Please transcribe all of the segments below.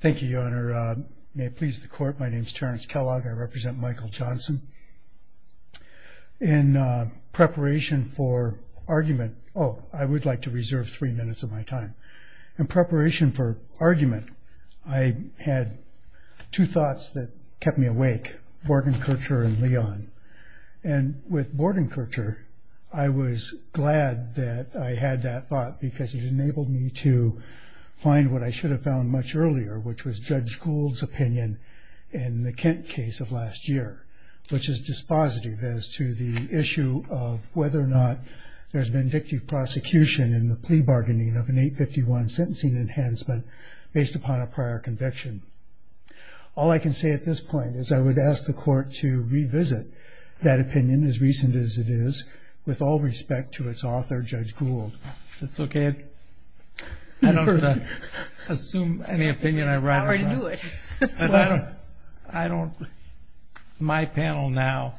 Thank you, Your Honor. May it please the Court, my name is Terrence Kellogg. I represent Michael Johnson. In preparation for argument, oh, I would like to reserve three minutes of my time. In preparation for argument, I had two thoughts that kept me awake, Bordenkercher and Leon. And with Bordenkercher, I was glad that I had that thought because it enabled me to find what I should have found much earlier, which was Judge Gould's opinion in the Kent case of last year, which is dispositive as to the issue of whether or not there's vindictive prosecution in the plea bargaining of an 851 sentencing enhancement based upon a prior conviction. All I can say at this point is I would ask the Court to revisit that opinion, as recent as it is, with all respect to its author, Judge Gould. That's okay. I don't have to assume any opinion I write about. How are you doing? I don't, my panel now,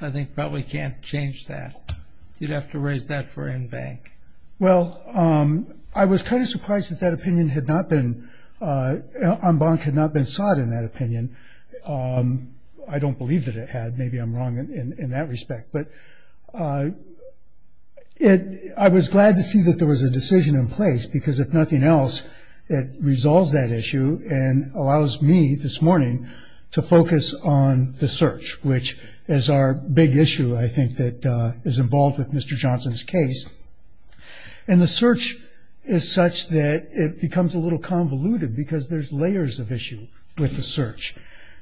I think probably can't change that. You'd have to raise that for en banc. Well, I was kind of surprised that that opinion had not been, en banc had not been sought in that opinion. I don't believe that it had. Maybe I'm wrong in that respect. But I was glad to see that there was a decision in place because if nothing else, it resolves that issue and allows me this morning to focus on the search, which is our big issue, I think, that is involved with Mr. Johnson's case. And the search is such that it becomes a little convoluted because there's layers of issue with the search.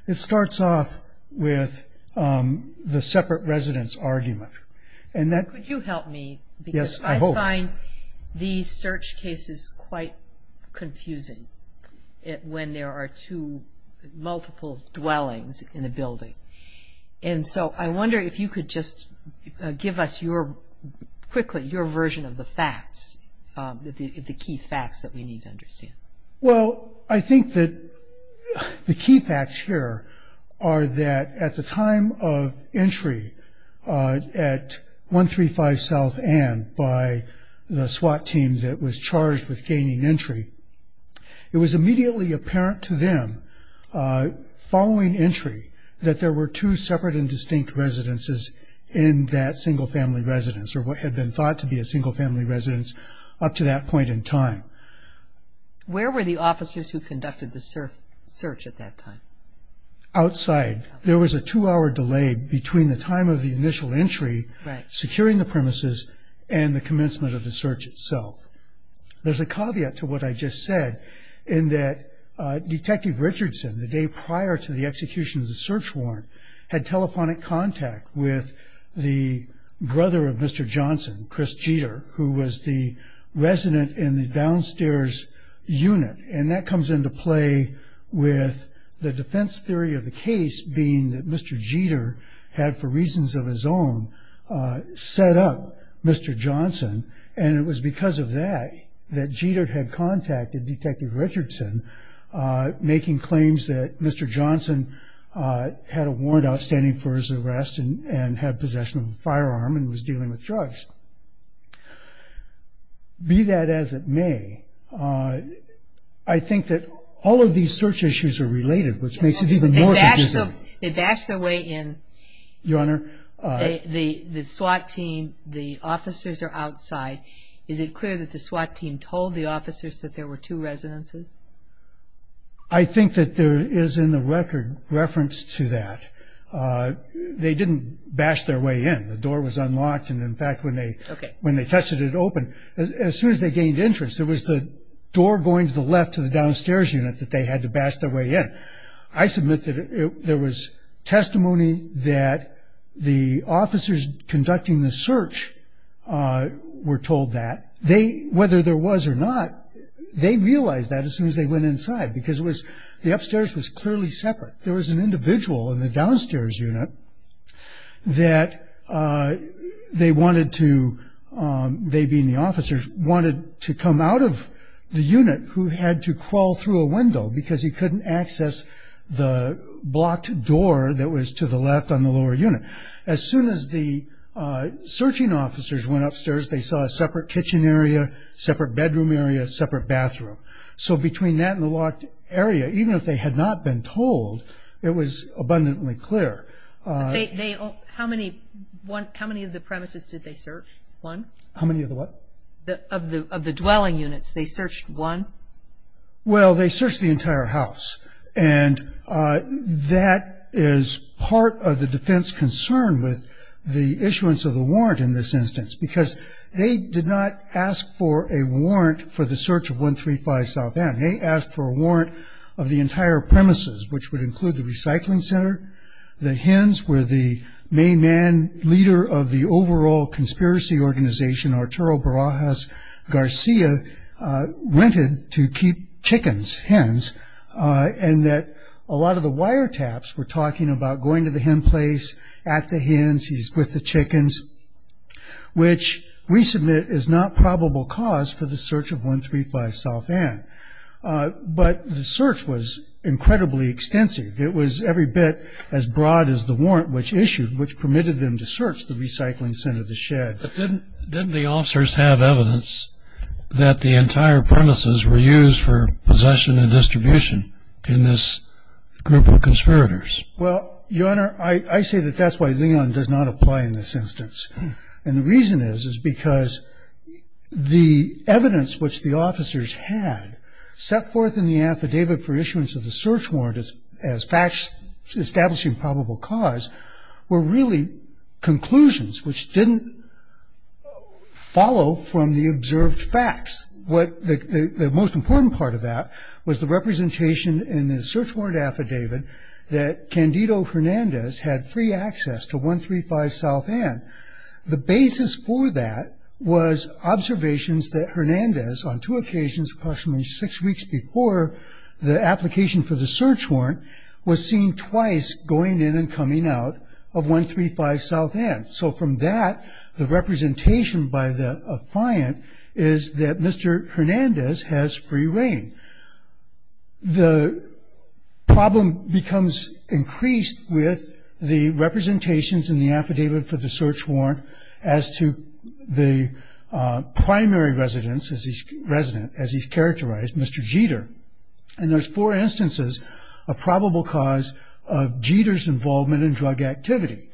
It starts off with the separate residence argument. Could you help me? Yes, I hope. Because I find these search cases quite confusing when there are two multiple dwellings in a building. And so I wonder if you could just give us your, quickly, your version of the facts, the key facts that we need to understand. Well, I think that the key facts here are that at the time of entry at 135 South End by the SWAT team that was charged with gaining entry, it was immediately apparent to them following entry that there were two separate and distinct residences in that single-family residence, or what had been thought to be a single-family residence up to that point in time. Where were the officers who conducted the search at that time? Outside. There was a two-hour delay between the time of the initial entry, securing the premises, and the commencement of the search itself. There's a caveat to what I just said in that Detective Richardson, the day prior to the execution of the search warrant, had telephonic contact with the brother of Mr. Johnson, Chris Jeter, who was the resident in the downstairs unit. And that comes into play with the defense theory of the case being that Mr. Jeter had, for reasons of his own, set up Mr. Johnson. And it was because of that that Jeter had contacted Detective Richardson, making claims that Mr. Johnson had a warrant outstanding for his arrest and had possession of a firearm and was dealing with drugs. Be that as it may, I think that all of these search issues are related, which makes it even more confusing. They bashed their way in. Your Honor? The SWAT team, the officers are outside. Is it clear that the SWAT team told the officers that there were two residences? I think that there is in the record reference to that. They didn't bash their way in. The door was unlocked, and, in fact, when they touched it, it opened. As soon as they gained entrance, it was the door going to the left of the downstairs unit that they had to bash their way in. I submit that there was testimony that the officers conducting the search were told that. Whether there was or not, they realized that as soon as they went inside because the upstairs was clearly separate. There was an individual in the downstairs unit that they wanted to, they being the officers, wanted to come out of the unit who had to crawl through a window because he couldn't access the blocked door that was to the left on the lower unit. As soon as the searching officers went upstairs, they saw a separate kitchen area, separate bedroom area, separate bathroom. So between that and the locked area, even if they had not been told, it was abundantly clear. How many of the premises did they search? One? How many of the what? Of the dwelling units. They searched one? Well, they searched the entire house. And that is part of the defense concern with the issuance of the warrant in this instance because they did not ask for a warrant for the search of 135 South End. They asked for a warrant of the entire premises, which would include the recycling center, the hens where the main man, leader of the overall conspiracy organization, Arturo Barajas Garcia, rented to keep chickens, hens, and that a lot of the wiretaps were talking about going to the hen place, at the hens, he's with the chickens, which we submit is not probable cause for the search of 135 South End. But the search was incredibly extensive. It was every bit as broad as the warrant which issued, But didn't the officers have evidence that the entire premises were used for possession and distribution in this group of conspirators? Well, Your Honor, I say that that's why Leon does not apply in this instance. And the reason is is because the evidence which the officers had set forth in the affidavit for issuance of the search warrant as facts establishing probable cause were really conclusions which didn't follow from the observed facts. The most important part of that was the representation in the search warrant affidavit that Candido Hernandez had free access to 135 South End. The basis for that was observations that Hernandez on two occasions approximately six weeks before the application for the search warrant was seen twice going in and coming out of 135 South End. So from that, the representation by the affiant is that Mr. Hernandez has free reign. The problem becomes increased with the representations in the affidavit for the search warrant as to the primary resident, as he's characterized, Mr. Jeter. And there's four instances of probable cause of Jeter's involvement in drug activity.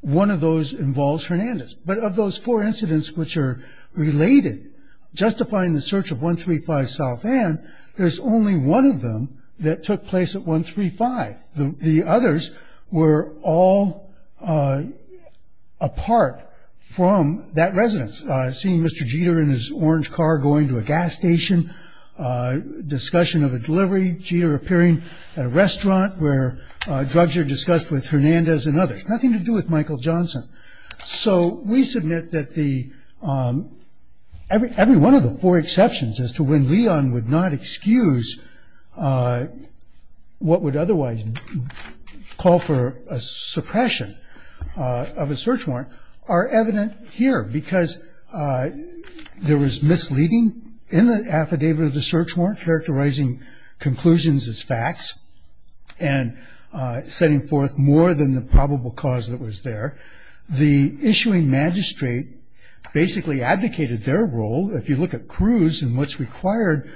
One of those involves Hernandez. But of those four incidents which are related, justifying the search of 135 South End, there's only one of them that took place at 135. The others were all apart from that residence, seeing Mr. Jeter in his orange car going to a gas station, discussion of a delivery, Jeter appearing at a restaurant where drugs are discussed with Hernandez and others. Nothing to do with Michael Johnson. So we submit that every one of the four exceptions as to when Leon would not excuse what would otherwise call for a suppression of a search warrant are evident here because there was misleading in the affidavit of the search warrant, characterizing conclusions as facts and setting forth more than the probable cause that was there. The issuing magistrate basically advocated their role. If you look at Cruz and what's required,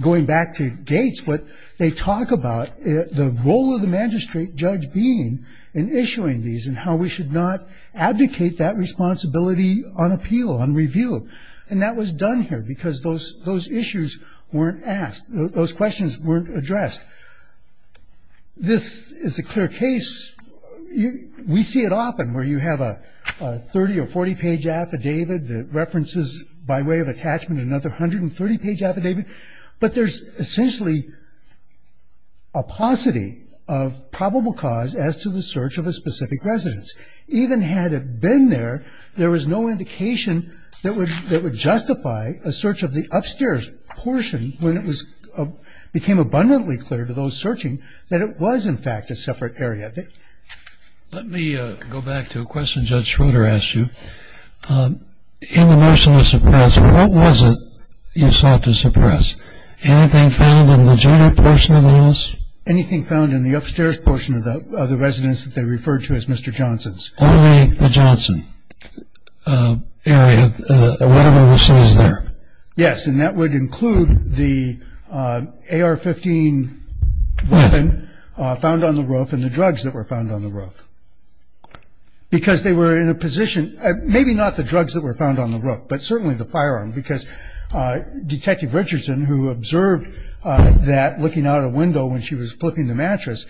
going back to Gates, what they talk about the role of the magistrate judge being in issuing these and how we should not abdicate that responsibility on appeal, on review. And that was done here because those issues weren't asked. Those questions weren't addressed. This is a clear case. We see it often where you have a 30- or 40-page affidavit that references, by way of attachment, another 130-page affidavit. But there's essentially a paucity of probable cause as to the search of a specific residence. Even had it been there, there was no indication that would justify a search of the upstairs portion when it became abundantly clear to those searching that it was, in fact, a separate area. Let me go back to a question Judge Schroeder asked you. In the motion to suppress, what was it you sought to suppress? Anything found in the junior portion of the house? Anything found in the upstairs portion of the residence that they referred to as Mr. Johnson's. Only the Johnson area, whatever was seized there. Yes, and that would include the AR-15 weapon found on the roof and the drugs that were found on the roof. Because they were in a position, maybe not the drugs that were found on the roof, but certainly the firearm, because Detective Richardson, who observed that looking out a window when she was flipping the mattress,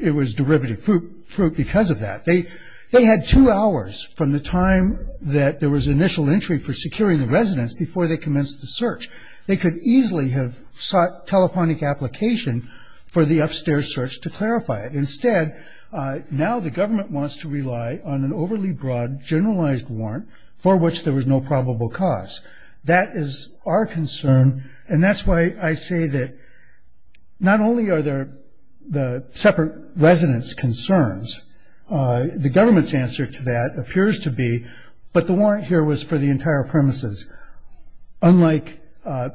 it was derivative fruit because of that. They had two hours from the time that there was initial entry for securing the residence before they commenced the search. They could easily have sought telephonic application for the upstairs search to clarify it. Instead, now the government wants to rely on an overly broad, generalized warrant for which there was no probable cause. That is our concern, and that's why I say that not only are there separate residence concerns, the government's answer to that appears to be, but the warrant here was for the entire premises, unlike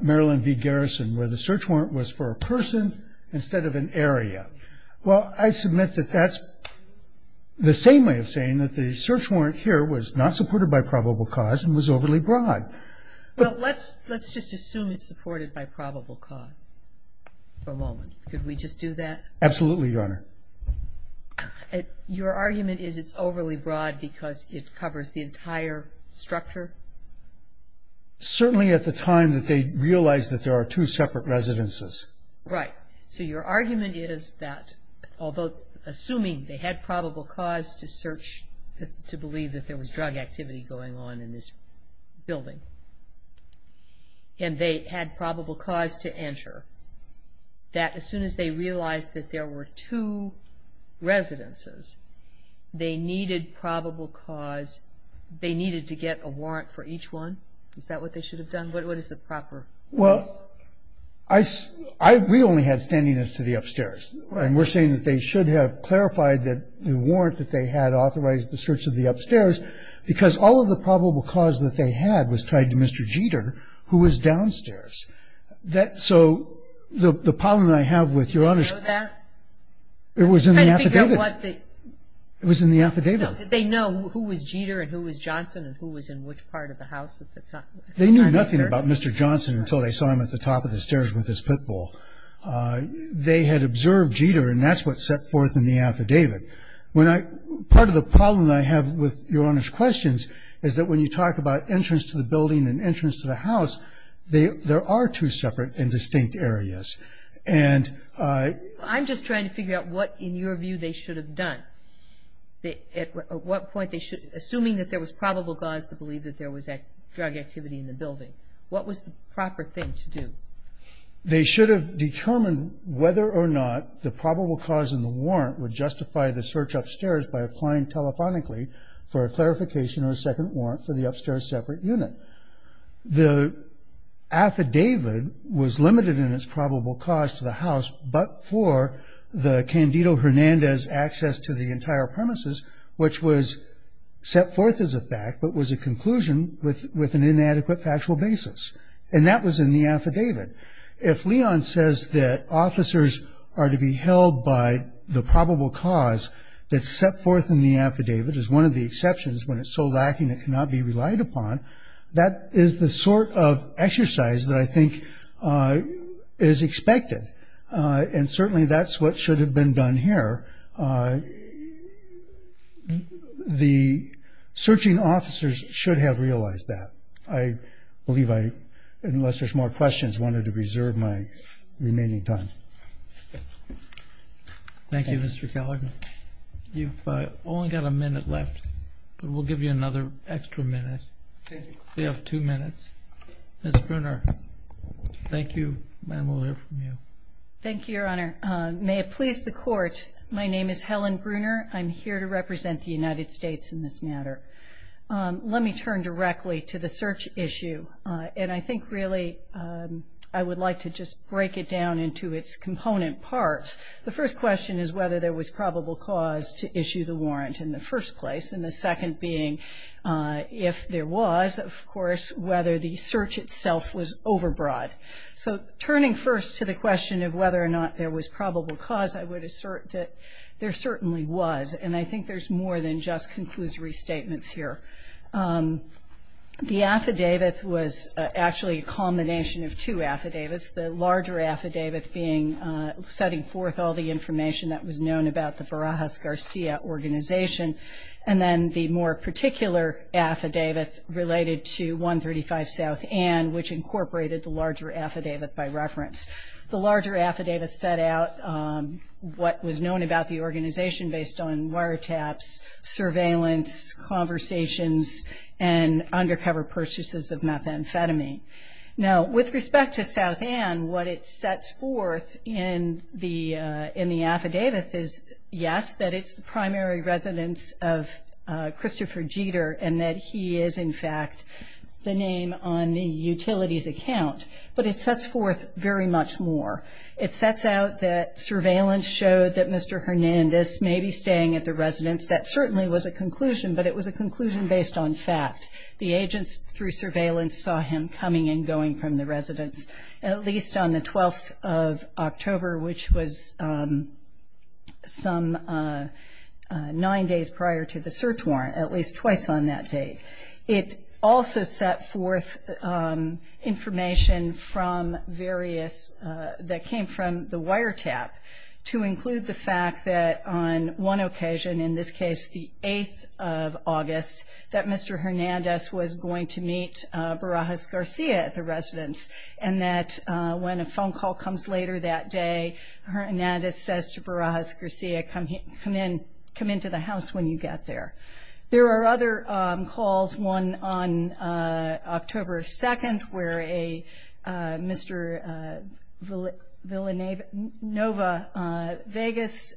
Maryland v. Garrison where the search warrant was for a person instead of an area. Well, I submit that that's the same way of saying that the search warrant here was not supported by probable cause and was overly broad. Well, let's just assume it's supported by probable cause for a moment. Could we just do that? Absolutely, Your Honor. Your argument is it's overly broad because it covers the entire structure? Certainly at the time that they realized that there are two separate residences. Right. So your argument is that although assuming they had probable cause to search to believe that there was drug activity going on in this building and they had probable cause to enter, that as soon as they realized that there were two residences, they needed probable cause. They needed to get a warrant for each one. Is that what they should have done? What is the proper? Well, we only had standing as to the upstairs, and we're saying that they should have clarified that the warrant that they had authorized the search of the upstairs, because all of the probable cause that they had was tied to Mr. Jeter, who was downstairs. So the problem that I have with Your Honor is that it was in the affidavit. It was in the affidavit. No. Did they know who was Jeter and who was Johnson and who was in which part of the house at the time? They knew nothing about Mr. Johnson until they saw him at the top of the stairs with his pit bull. They had observed Jeter, and that's what's set forth in the affidavit. Part of the problem that I have with Your Honor's questions is that when you talk about entrance to the building and entrance to the house, there are two separate and distinct areas. And I'm just trying to figure out what, in your view, they should have done. At what point they should, assuming that there was probable cause to believe that there was drug activity in the building, what was the proper thing to do? They should have determined whether or not the probable cause in the warrant would justify the search upstairs by applying telephonically for a clarification or a second warrant for the upstairs separate unit. The affidavit was limited in its probable cause to the house, but for the Candido-Hernandez access to the entire premises, which was set forth as a fact, but was a conclusion with an inadequate factual basis. And that was in the affidavit. If Leon says that officers are to be held by the probable cause that's set forth in the affidavit as one of the exceptions when it's so lacking it cannot be relied upon, that is the sort of exercise that I think is expected. And certainly that's what should have been done here. The searching officers should have realized that. I believe I, unless there's more questions, wanted to reserve my remaining time. Thank you, Mr. Keller. You've only got a minute left, but we'll give you another extra minute. We have two minutes. Ms. Bruner, thank you, and we'll hear from you. Thank you, Your Honor. May it please the Court, my name is Helen Bruner. I'm here to represent the United States in this matter. Let me turn directly to the search issue, and I think really I would like to just break it down into its component parts. The first question is whether there was probable cause to issue the warrant in the first place, and the second being if there was, of course, whether the search itself was overbroad. So turning first to the question of whether or not there was probable cause, I would assert that there certainly was, and I think there's more than just conclusory statements here. The affidavit was actually a combination of two affidavits, the larger affidavit being setting forth all the information that was known about the and the more particular affidavit related to 135 South Ann, which incorporated the larger affidavit by reference. The larger affidavit set out what was known about the organization based on wiretaps, surveillance, conversations, and undercover purchases of methamphetamine. Now, with respect to South Ann, what it sets forth in the affidavit is, yes, that it's the primary residence of Christopher Jeter, and that he is, in fact, the name on the utilities account. But it sets forth very much more. It sets out that surveillance showed that Mr. Hernandez may be staying at the residence. That certainly was a conclusion, but it was a conclusion based on fact. The agents through surveillance saw him coming and going from the residence, at least on the 12th of October, which was some nine days prior to the search warrant, at least twice on that date. It also set forth information that came from the wiretap to include the fact that on one occasion, in this case the 8th of August, that Mr. Hernandez was going to meet Barajas Garcia at the residence. And that when a phone call comes later that day, Hernandez says to Barajas Garcia, come into the house when you get there. There are other calls, one on October 2nd, where Mr. Villanueva Vegas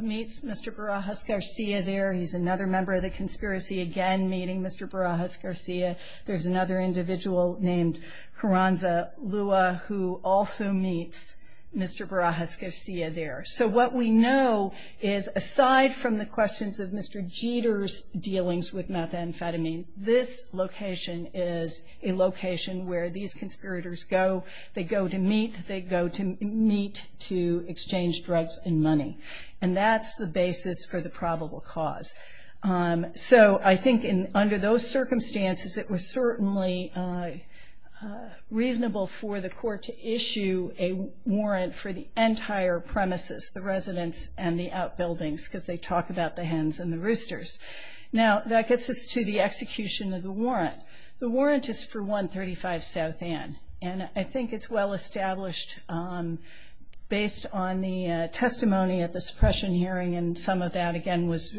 meets Mr. Barajas Garcia there. He's another member of the conspiracy, again meeting Mr. Barajas Garcia. There's another individual named Carranza Lua who also meets Mr. Barajas Garcia there. So what we know is aside from the questions of Mr. Jeter's dealings with methamphetamine, this location is a location where these conspirators go. They go to meet, they go to meet to exchange drugs and money. And that's the basis for the probable cause. So I think under those circumstances, it was certainly reasonable for the court to issue a warrant for the entire premises, the residence and the outbuildings, because they talk about the hens and the roosters. Now that gets us to the execution of the warrant. The warrant is for 135 South End. And I think it's well established based on the testimony at the suppression hearing and some of that, again, was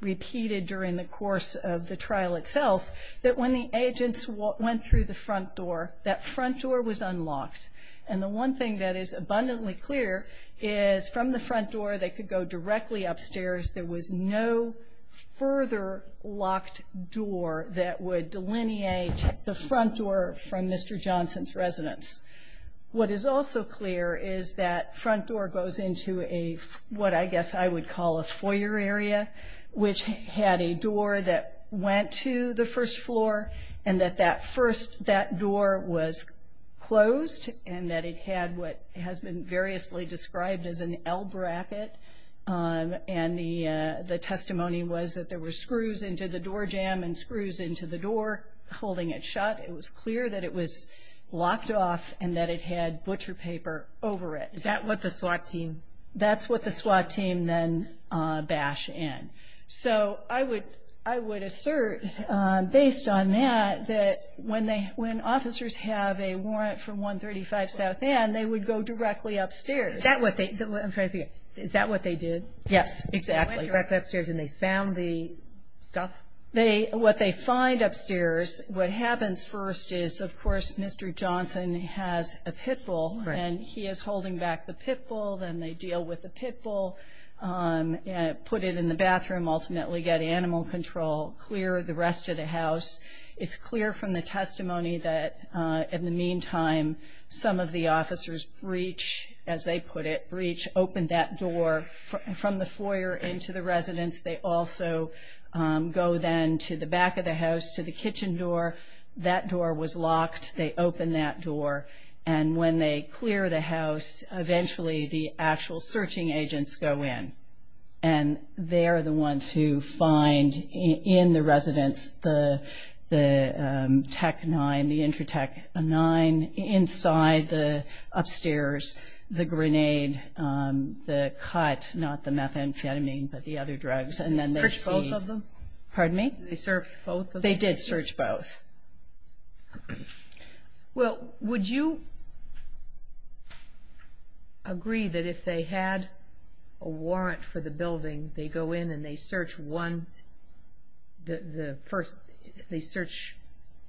repeated during the course of the trial itself, that when the agents went through the front door, that front door was unlocked. And the one thing that is abundantly clear is from the front door they could go directly upstairs. There was no further locked door that would delineate the front door from Mr. Johnson's residence. What is also clear is that front door goes into a, what I guess I would call a foyer area, which had a door that went to the first floor and that that first, that door was closed and that it had what has been variously described as an L-bracket. And the testimony was that there were screws into the door jam and screws into the door holding it shut. It was clear that it was locked off and that it had butcher paper over it. Is that what the SWAT team? That's what the SWAT team then bashed in. So I would assert, based on that, that when officers have a warrant for 135 South End, they would go directly upstairs. Is that what they did? Yes, exactly. They went directly upstairs and they found the stuff? What they find upstairs, what happens first is, of course, Mr. Johnson has a pit bull, and he is holding back the pit bull. Then they deal with the pit bull, put it in the bathroom, ultimately get animal control, clear the rest of the house. It's clear from the testimony that in the meantime some of the officers breach, as they put it, breach, open that door from the foyer into the residence. They also go then to the back of the house, to the kitchen door. That door was locked. They opened that door. And when they clear the house, eventually the actual searching agents go in, and they're the ones who find in the residence the Tec-9, the Intratec-9. Inside the upstairs, the grenade, the cut, not the methamphetamine, but the other drugs. They searched both of them? Pardon me? They searched both of them? They did search both. Well, would you agree that if they had a warrant for the building, they go in and they search one, the first, they search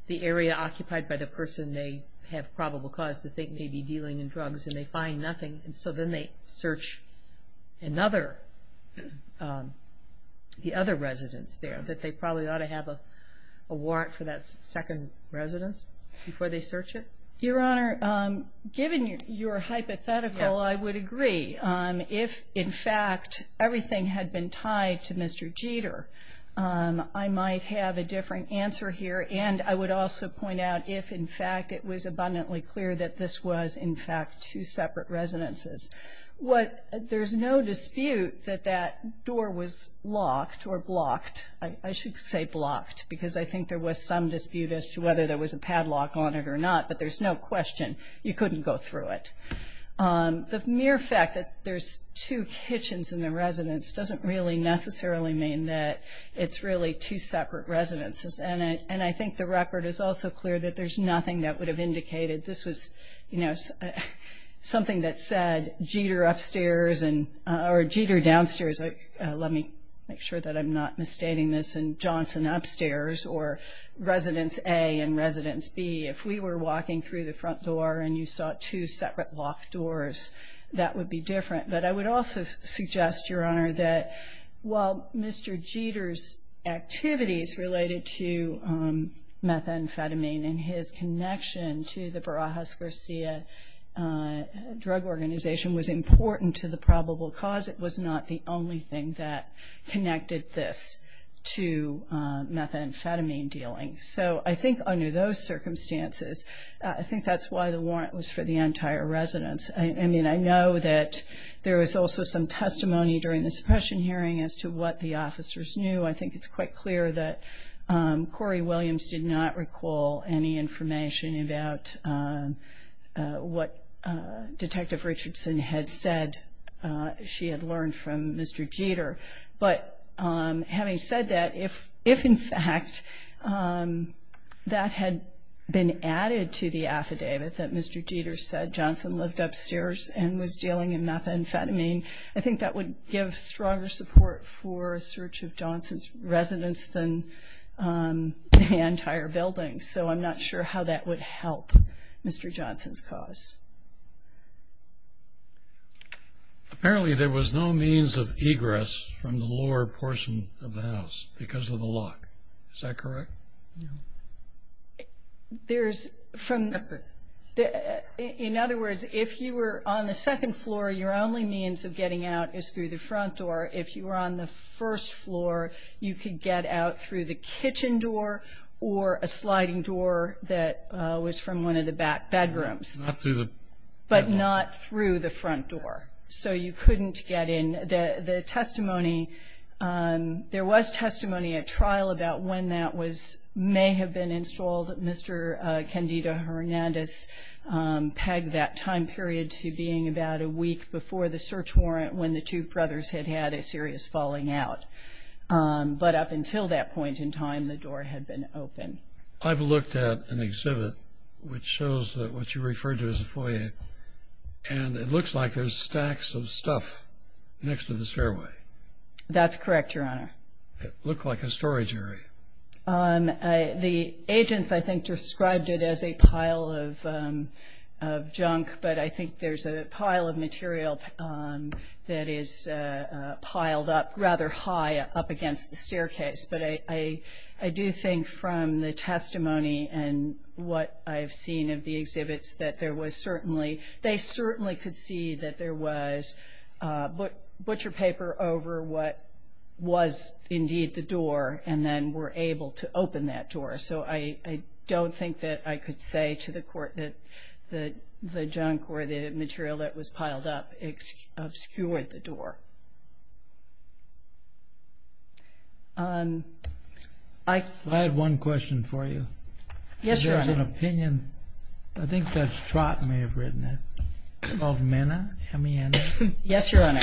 the area occupied by the person they have probable cause to think may be dealing in drugs, and they find nothing, and so then they search another, the other residence there, that they probably ought to have a warrant for that second residence before they search it? Your Honor, given your hypothetical, I would agree. If, in fact, everything had been tied to Mr. Jeter, I might have a different answer here, and I would also point out if, in fact, it was abundantly clear that this was, in fact, two separate residences. There's no dispute that that door was locked or blocked. I should say blocked because I think there was some dispute as to whether there was a padlock on it or not, but there's no question you couldn't go through it. The mere fact that there's two kitchens in the residence doesn't really necessarily mean that it's really two separate residences, and I think the record is also clear that there's nothing that would have indicated this was, you know, something that said Jeter upstairs or Jeter downstairs. Let me make sure that I'm not misstating this and Johnson upstairs or Residence A and Residence B. If we were walking through the front door and you saw two separate locked doors, that would be different. But I would also suggest, Your Honor, that while Mr. Jeter's activities related to methamphetamine and his connection to the Barajas-Garcia drug organization was important to the probable cause, it was not the only thing that connected this to methamphetamine dealing. So I think under those circumstances, I think that's why the warrant was for the entire residence. I mean, I know that there was also some testimony during the suppression hearing as to what the officers knew. I think it's quite clear that Corey Williams did not recall any information about what Detective Richardson had said she had learned from Mr. Jeter. But having said that, if in fact that had been added to the affidavit, that Mr. Jeter said Johnson lived upstairs and was dealing in methamphetamine, I think that would give stronger support for a search of Johnson's residence than the entire building. So I'm not sure how that would help Mr. Johnson's cause. Apparently, there was no means of egress from the lower portion of the house because of the lock. Is that correct? No. There's, from, in other words, if you were on the second floor, your only means of getting out is through the front door. If you were on the first floor, you could get out through the kitchen door or a sliding door that was from one of the back bedrooms. Not through the front door. But not through the front door. So you couldn't get in. The testimony, there was testimony at trial about when that may have been installed. Mr. Candida Hernandez pegged that time period to being about a week before the search warrant when the two brothers had had a serious falling out. But up until that point in time, the door had been open. I've looked at an exhibit which shows what you referred to as a foyer, and it looks like there's stacks of stuff next to this fairway. That's correct, Your Honor. It looked like a storage area. The agents, I think, described it as a pile of junk, but I think there's a pile of material that is piled up rather high up against the staircase. But I do think from the testimony and what I've seen of the exhibits that they certainly could see that there was butcher paper over what was indeed the door and then were able to open that door. So I don't think that I could say to the court that the junk or the material that was piled up obscured the door. I had one question for you. Yes, Your Honor. There's an opinion, I think Judge Trott may have written it, called Mena, M-E-N-A. Yes, Your Honor.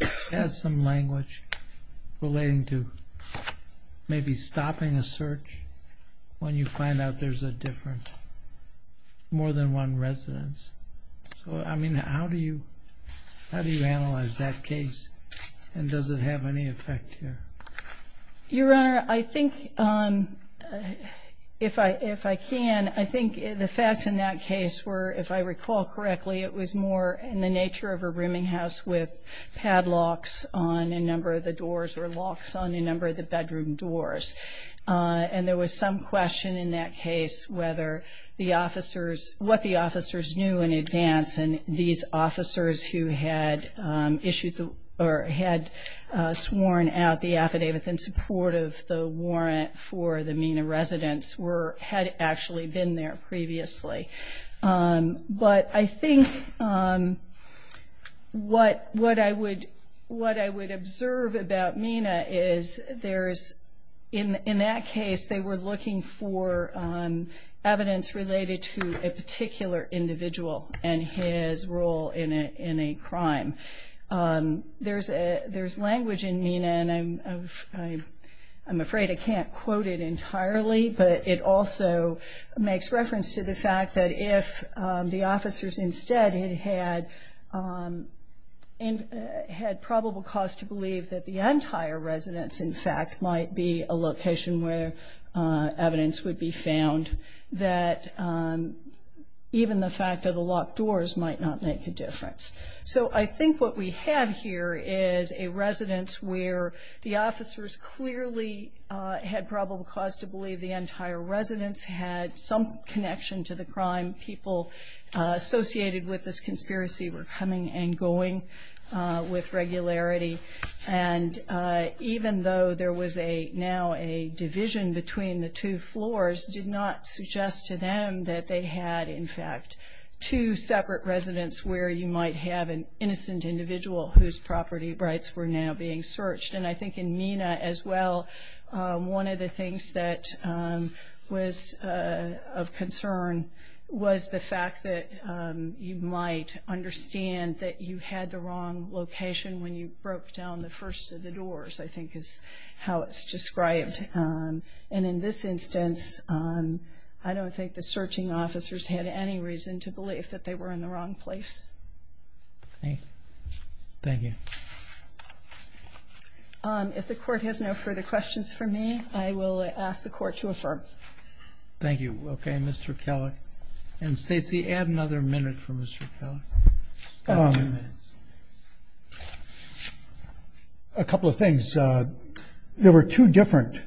It has some language relating to maybe stopping a search when you find out there's a different, more than one residence. So, I mean, how do you analyze that case, and does it have any effect here? Your Honor, I think if I can, I think the facts in that case were, if I recall correctly, it was more in the nature of a rooming house with padlocks on a number of the doors or locks on a number of the bedroom doors. And there was some question in that case whether the officers, what the officers knew in advance, and these officers who had sworn out the affidavit in support of the warrant for the Mena residence had actually been there previously. But I think what I would observe about Mena is, in that case, they were looking for evidence related to a particular individual and his role in a crime. There's language in Mena, and I'm afraid I can't quote it entirely, but it also makes reference to the fact that if the officers instead had probable cause to believe that the entire residence, in fact, might be a location where evidence would be found, that even the fact of the locked doors might not make a difference. So I think what we have here is a residence where the officers clearly had probable cause to believe the entire residence had some connection to the crime. People associated with this conspiracy were coming and going with regularity. And even though there was now a division between the two floors, did not suggest to them that they had, in fact, two separate residences where you might have an innocent individual whose property rights were now being searched. And I think in Mena as well, one of the things that was of concern was the fact that you might understand that you had the wrong location when you broke down the first of the doors, I think is how it's described. And in this instance, I don't think the searching officers had any reason to believe that they were in the wrong place. Thank you. If the Court has no further questions for me, I will ask the Court to affirm. Thank you. Okay, Mr. Kellogg. And Stacy, add another minute for Mr. Kellogg. A couple of things. There were two different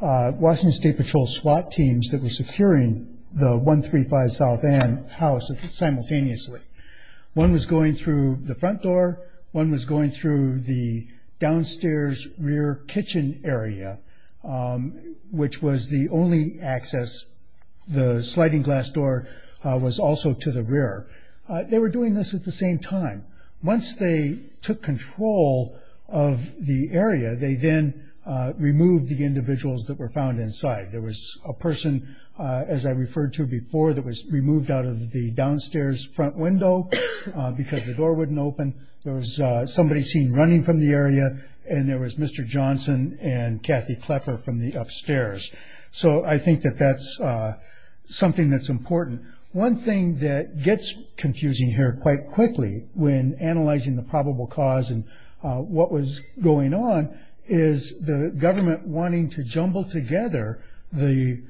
Washington State Patrol SWAT teams that were securing the 135 South End house simultaneously. One was going through the front door. One was going through the downstairs rear kitchen area, which was the only access. The sliding glass door was also to the rear. They were doing this at the same time. Once they took control of the area, they then removed the individuals that were found inside. There was a person, as I referred to before, that was removed out of the downstairs front window because the door wouldn't open. There was somebody seen running from the area, and there was Mr. Johnson and Kathy Klepper from the upstairs. So I think that that's something that's important. One thing that gets confusing here quite quickly when analyzing the probable cause and what was going on is the government wanting to jumble together the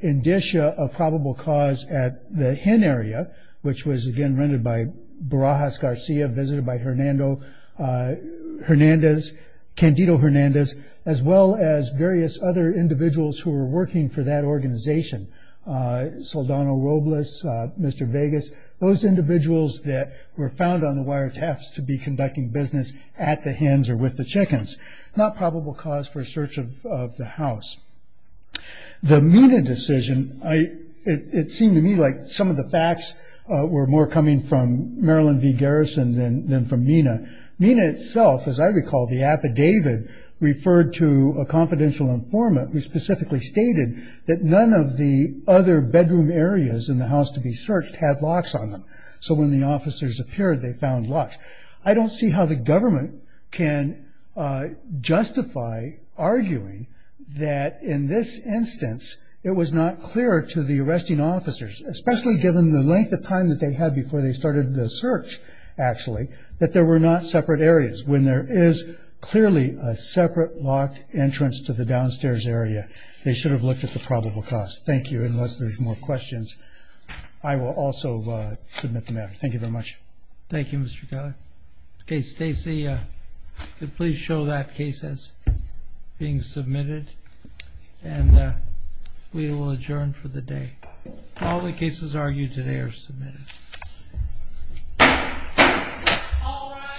indicia of probable cause at the hen area, which was, again, rendered by Borajas Garcia, visited by Hernando Hernandez, Candido Hernandez, as well as various other individuals who were working for that organization, Saldana Robles, Mr. Vegas, those individuals that were found on the wiretaps to be conducting business at the hens or with the chickens. Not probable cause for a search of the house. The MENA decision, it seemed to me like some of the facts were more coming from Marilyn V. Garrison than from MENA. MENA itself, as I recall, the affidavit referred to a confidential informant who specifically stated that none of the other bedroom areas in the house to be searched had locks on them. So when the officers appeared, they found locks. I don't see how the government can justify arguing that in this instance it was not clear to the arresting officers, especially given the length of time that they had before they started the search, actually, that there were not separate areas, when there is clearly a separate locked entrance to the downstairs area, they should have looked at the probable cause. Thank you. Unless there's more questions, I will also submit the matter. Thank you very much. Thank you, Mr. Keller. Okay, Stacy, please show that case as being submitted, and we will adjourn for the day. All the cases argued today are submitted. All rise.